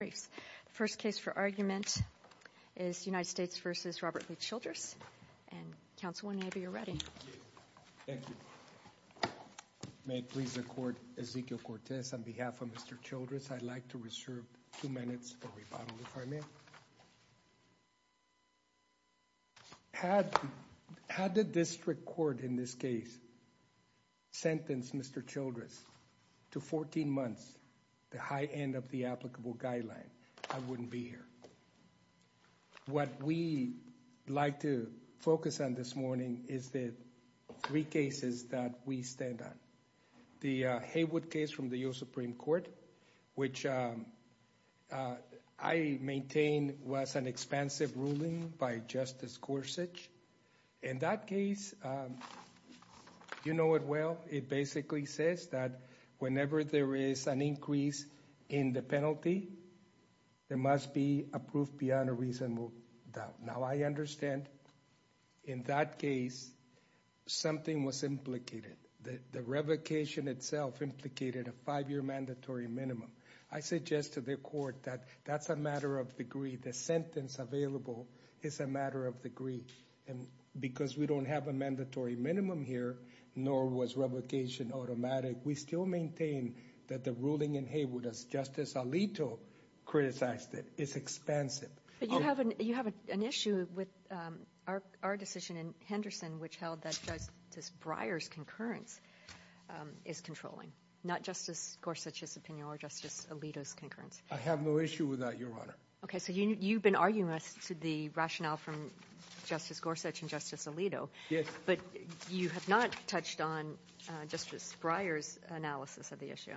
The first case for argument is United States v. Robert Lee Childress, and Counsel, whenever you're ready. Thank you. May it please the Court, Ezequiel Cortez, on behalf of Mr. Childress, I'd like to reserve two minutes for rebuttal, if I may. Had the district court in this case sentenced Mr. Childress to 14 months, the high end of the applicable guideline, I wouldn't be here. What we'd like to focus on this morning is the three cases that we stand on. The Haywood case from the U.S. Supreme Court, which I maintain was an expansive ruling by Justice Gorsuch. In that case, you know it well, it basically says that whenever there is an increase in the penalty, there must be a proof beyond a reasonable doubt. Now I understand, in that case, something was implicated. The revocation itself implicated a five-year mandatory minimum. I suggest to the Court that that's a matter of degree, the sentence available is a matter of degree, and because we don't have a mandatory minimum here, nor was revocation automatic, we still maintain that the ruling in Haywood, as Justice Alito criticized it, is expansive. You have an issue with our decision in Henderson, which held that Justice Breyer's concurrence is controlling, not Justice Gorsuch's opinion or Justice Alito's concurrence. I have no issue with that, Your Honor. Okay, so you've been arguing to the rationale from Justice Gorsuch and Justice Alito, but you have not touched on Justice Breyer's analysis of the issue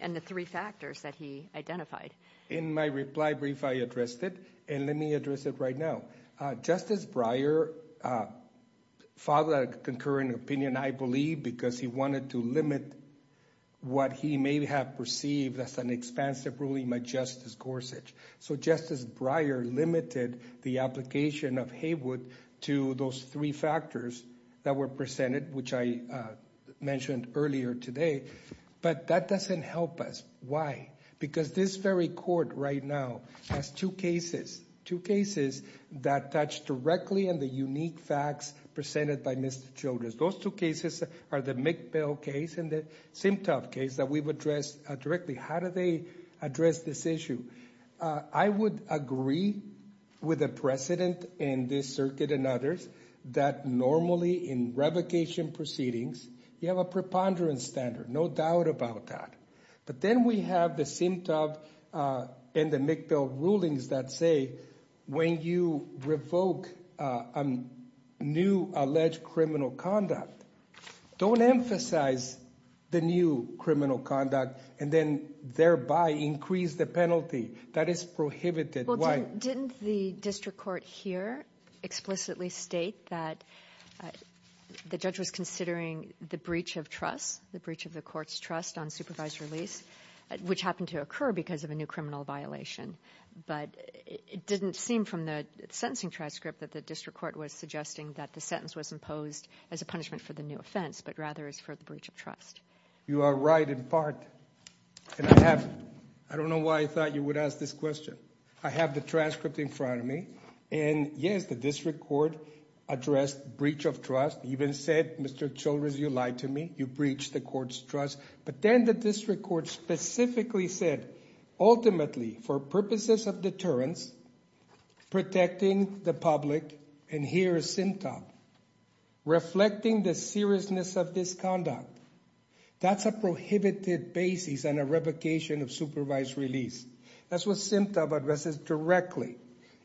and the three factors that he identified. In my reply brief, I addressed it, and let me address it right now. Justice Breyer filed a concurring opinion, I believe, because he wanted to limit what he may have perceived as an expansive ruling by Justice Gorsuch. So Justice Breyer limited the application of Haywood to those three factors that were presented, which I mentioned earlier today. But that doesn't help us. Why? Because this very Court right now has two cases, two cases that touch directly on the unique facts presented by Mr. Childress. Those two cases are the McBell case and the Simtoff case that we've addressed directly. How do they address this issue? I would agree with the precedent in this circuit and others that normally in revocation proceedings, you have a preponderance standard, no doubt about that. But then we have the Simtoff and the McBell rulings that say when you revoke a new alleged criminal conduct, don't emphasize the new criminal conduct, and then thereby increase the penalty. That is prohibited. Why? Well, didn't the district court here explicitly state that the judge was considering the breach of trust, the breach of the court's trust on supervised release, which happened to occur because of a new criminal violation, but it didn't seem from the sentencing transcript that the district court was suggesting that the sentence was imposed as a punishment for the new offense, but rather as for the breach of trust. You are right in part, and I have, I don't know why I thought you would ask this question. I have the transcript in front of me, and yes, the district court addressed breach of trust, even said, Mr. Childress, you lied to me, you breached the court's trust. But then the district court specifically said, ultimately, for purposes of deterrence, protecting the public, and here is SEMTA, reflecting the seriousness of this conduct. That's a prohibited basis and a revocation of supervised release. That's what SEMTA addresses directly,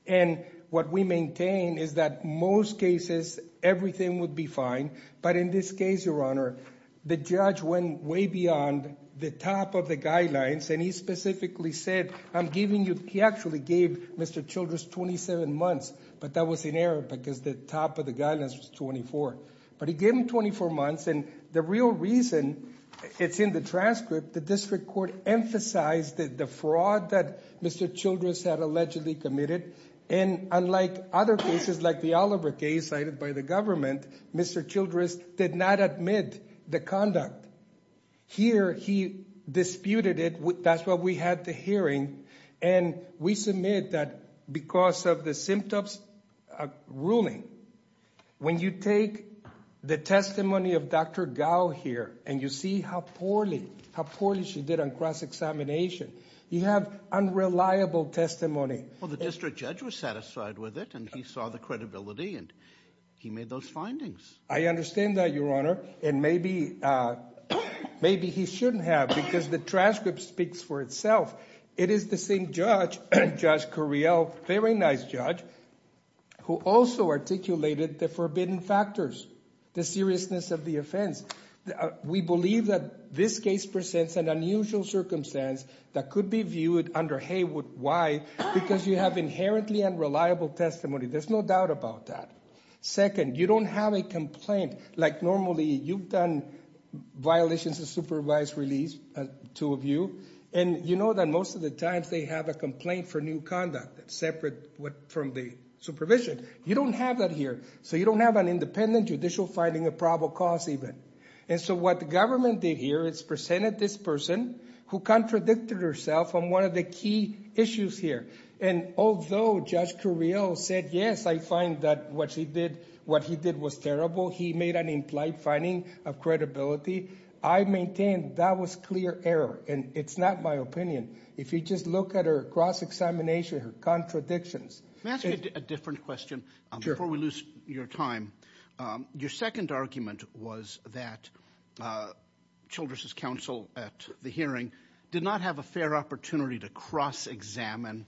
and what we maintain is that most cases, everything would be fine, but in this case, Your Honor, the judge went way beyond the top of the guidelines, and he specifically said, I'm giving you, he actually gave Mr. Childress 27 months, but that was in error because the top of the guidelines was 24. But he gave him 24 months, and the real reason, it's in the transcript, the district court emphasized the fraud that Mr. Childress had allegedly committed, and unlike other cases like the Oliver case cited by the government, Mr. Childress did not admit the conduct. Here, he disputed it, that's why we had the hearing, and we submit that because of the SEMTA ruling, when you take the testimony of Dr. Gao here, and you see how poorly, how poorly she did on cross-examination, you have unreliable testimony. Well, the district judge was satisfied with it, and he saw the credibility, and he made those findings. I understand that, Your Honor, and maybe, maybe he shouldn't have, because the transcript speaks for itself. It is the same judge, Judge Correale, very nice judge, who also articulated the forbidden factors, the seriousness of the offense. We believe that this case presents an unusual circumstance that could be viewed under Haywood Y, because you have inherently unreliable testimony, there's no doubt about that. Second, you don't have a complaint, like normally, you've done violations of supervised release, the two of you, and you know that most of the times they have a complaint for new conduct, separate from the supervision. You don't have that here, so you don't have an independent judicial finding of probable cause even, and so what the government did here is presented this person who contradicted herself on one of the key issues here, and although Judge Correale said, yes, I find that what she did, what he did was terrible, he made an implied finding of credibility, I maintain that was clear error, and it's not my opinion. If you just look at her cross-examination, her contradictions- Can I ask you a different question before we lose your time? Your second argument was that Childress's counsel at the hearing did not have a fair opportunity to cross-examine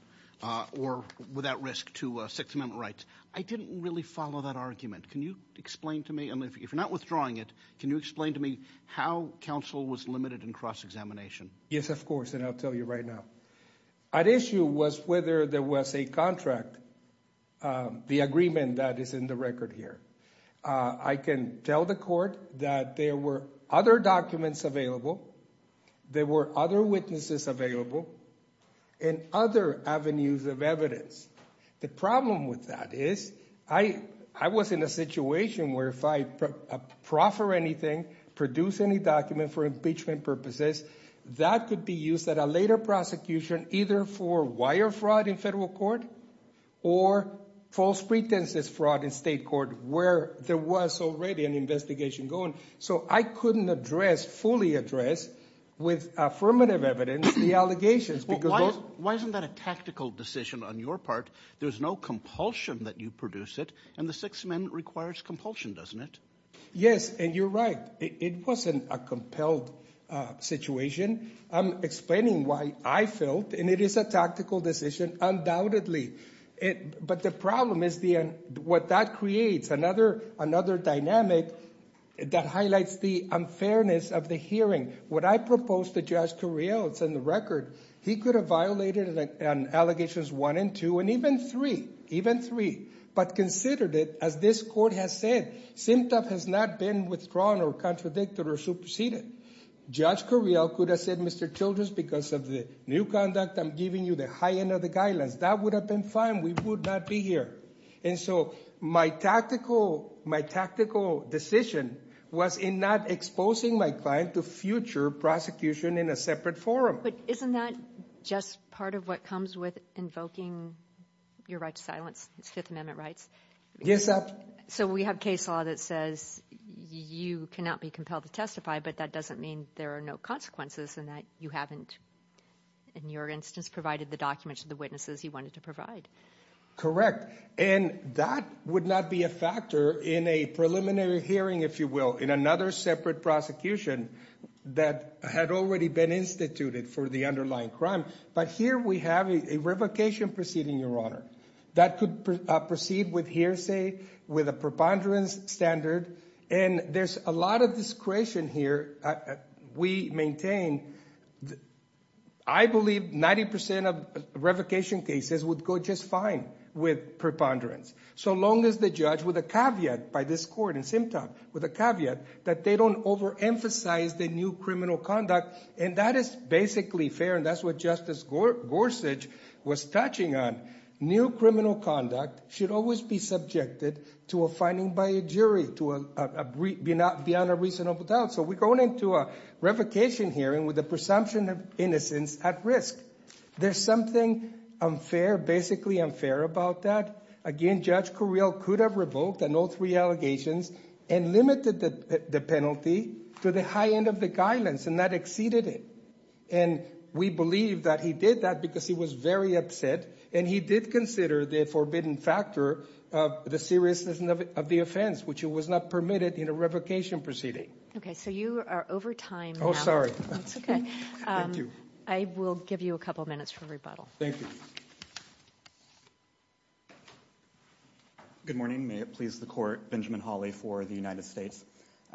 or without risk to Sixth Amendment rights. I didn't really follow that argument. Can you explain to me, if you're not withdrawing it, can you explain to me how counsel was limited in cross-examination? Yes, of course, and I'll tell you right now. At issue was whether there was a contract, the agreement that is in the record here. I can tell the court that there were other documents available, there were other witnesses available, and other avenues of evidence. The problem with that is, I was in a situation where if I proffer anything, produce any document for impeachment purposes, that could be used at a later prosecution, either for wire fraud in federal court, or false pretenses fraud in state court, where there was already an investigation going, so I couldn't address, fully address, with affirmative evidence, the allegations. Why isn't that a tactical decision on your part? There's no compulsion that you produce it, and the Sixth Amendment requires compulsion, doesn't it? Yes, and you're right. It wasn't a compelled situation. I'm explaining why I felt, and it is a tactical decision, undoubtedly. But the problem is, what that creates, another dynamic that highlights the unfairness of the hearing. What I proposed to Judge Correale, it's in the record, he could have violated allegations one and two, and even three, even three. But considered it, as this court has said, SIMTAF has not been withdrawn or contradicted or superseded. Judge Correale could have said, Mr. Childress, because of the new conduct, I'm giving you the high end of the guidelines. That would have been fine. We would not be here. And so my tactical decision was in not exposing my client to future prosecution in a separate forum. But isn't that just part of what comes with invoking your right to silence, the Fifth Amendment rights? Yes, ma'am. So we have case law that says you cannot be compelled to testify, but that doesn't mean there are no consequences in that you haven't, in your instance, provided the documents to the witnesses you wanted to provide. Correct. And that would not be a factor in a preliminary hearing, if you will, in another separate prosecution that had already been instituted for the underlying crime. But here we have a revocation proceeding, Your Honor, that could proceed with hearsay, with a preponderance standard. And there's a lot of discretion here. We maintain, I believe, 90% of revocation cases would go just fine with preponderance, so long as the judge, with a caveat by this court in Simtom, with a caveat that they don't overemphasize the new criminal conduct. And that is basically fair, and that's what Justice Gorsuch was touching on. New criminal conduct should always be subjected to a finding by a jury, to be on a reasonable doubt. So we're going into a revocation hearing with the presumption of innocence at risk. There's something unfair, basically unfair, about that. Again, Judge Correale could have revoked on all three allegations and limited the penalty to the high end of the guidance, and that exceeded it. And we believe that he did that because he was very upset, and he did consider the forbidden factor of the seriousness of the offense, which was not permitted in a revocation proceeding. Okay, so you are over time now. Oh, sorry. That's okay. Thank you. I will give you a couple minutes for rebuttal. Thank you. Good morning. May it please the court, Benjamin Hawley for the United States.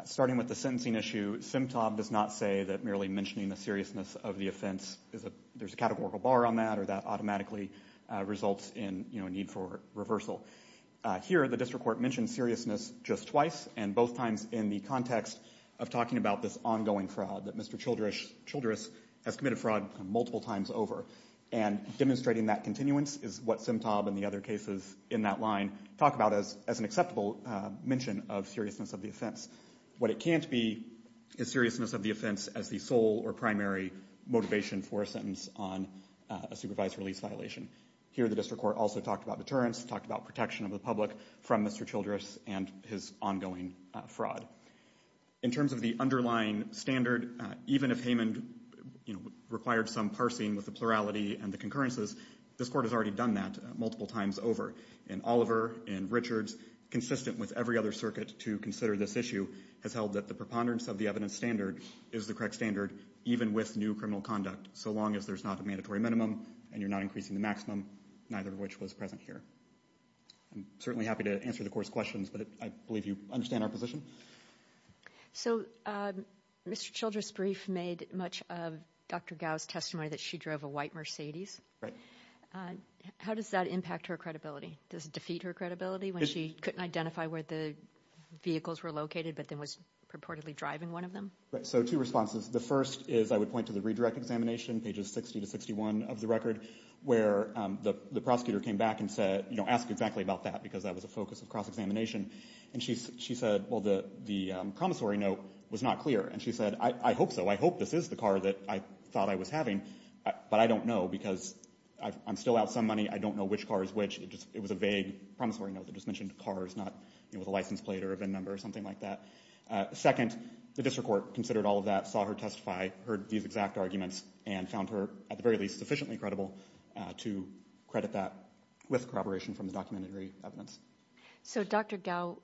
Starting with the sentencing issue, Simtom does not say that merely mentioning the seriousness of the offense, there's a categorical bar on that, or that automatically results in a need for reversal. Here, the district court mentioned seriousness just twice, and both times in the context of talking about this ongoing fraud that Mr. Childress has committed fraud multiple times over. And demonstrating that continuance is what Simtom and the other cases in that line talk about as an acceptable mention of seriousness of the offense. What it can't be is seriousness of the offense as the sole or primary motivation for a sentence on a supervised release violation. Here, the district court also talked about deterrence, talked about protection of the public from Mr. Childress and his ongoing fraud. In terms of the underlying standard, even if Heyman, you know, required some parsing with the plurality and the concurrences, this court has already done that multiple times over. And Oliver and Richards, consistent with every other circuit to consider this issue, has held that the preponderance of the evidence standard is the correct standard, even with new criminal conduct, so long as there's not a mandatory minimum and you're not increasing the maximum, neither of which was present here. I'm certainly happy to answer the court's questions, but I believe you understand our position. So, Mr. Childress' brief made much of Dr. Gow's testimony that she drove a white Mercedes. Right. How does that impact her credibility? Does it defeat her credibility when she couldn't identify where the vehicles were located but then was purportedly driving one of them? Right. So, two responses. The first is I would point to the redirect examination, pages 60 to 61 of the record, where the prosecutor came back and said, you know, asked exactly about that because that was a focus of cross-examination. And she said, well, the promissory note was not clear. And she said, I hope so. I hope this is the car that I thought I was having, but I don't know because I'm still out some money. I don't know which car is which. It was a vague promissory note that just mentioned cars, not, you know, with a license plate or a VIN number or something like that. Second, the district court considered all of that, saw her testify, heard these exact arguments, and found her, at the very least, sufficiently credible to credit that with corroboration from the documentary evidence. So Dr. Gao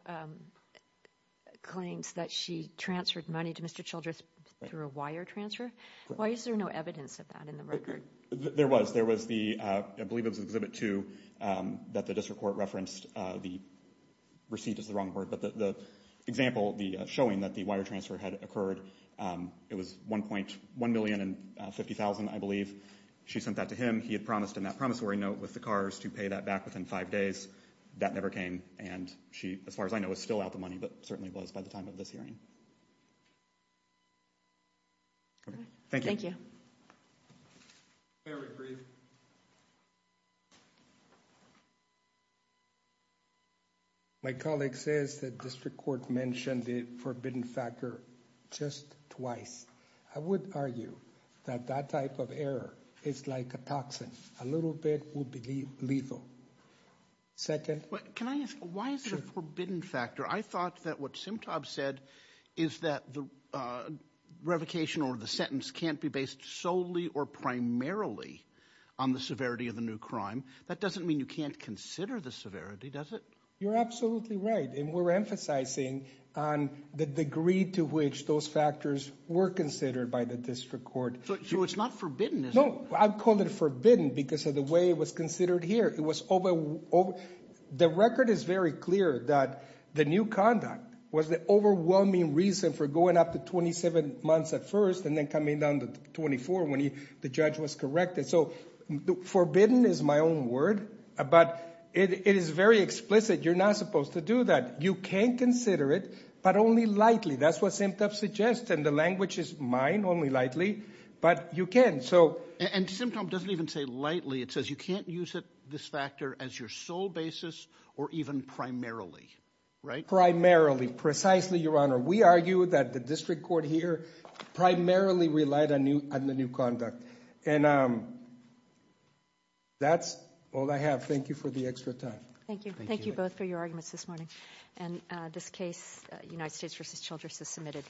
claims that she transferred money to Mr. Childress through a wire transfer. Why is there no evidence of that in the record? There was. There was the, I believe it was Exhibit 2, that the district court referenced the receipt is the wrong word, but the example, the showing that the wire transfer had occurred, it was $1.1 million and $50,000, I believe. She sent that to him. He had promised in that promissory note with the cars to pay that back within five days. That never came. And she, as far as I know, is still out the money, but certainly was by the time of this hearing. Okay. Thank you. May I re-read? My colleague says the district court mentioned the forbidden factor just twice. I would argue that that type of error is like a toxin. A little bit would be lethal. Second? Can I ask, why is it a forbidden factor? I thought that what Simtab said is that the revocation or the sentence can't be based solely or primarily on the severity of the new crime. That doesn't mean you can't consider the severity, does it? You're absolutely right, and we're emphasizing on the degree to which those factors work when they're considered by the district court. So it's not forbidden, is it? No, I call it forbidden because of the way it was considered here. The record is very clear that the new conduct was the overwhelming reason for going up to 27 months at first and then coming down to 24 when the judge was corrected. So forbidden is my own word, but it is very explicit. You're not supposed to do that. You can consider it, but only lightly. That's what Simtab suggests, and the language is mine, only lightly, but you can. And Simtab doesn't even say lightly. It says you can't use this factor as your sole basis or even primarily, right? Primarily, precisely, Your Honor. We argue that the district court here primarily relied on the new conduct. And that's all I have. Thank you for the extra time. Thank you both for your arguments this morning. And this case, United States v. Childress, is submitted.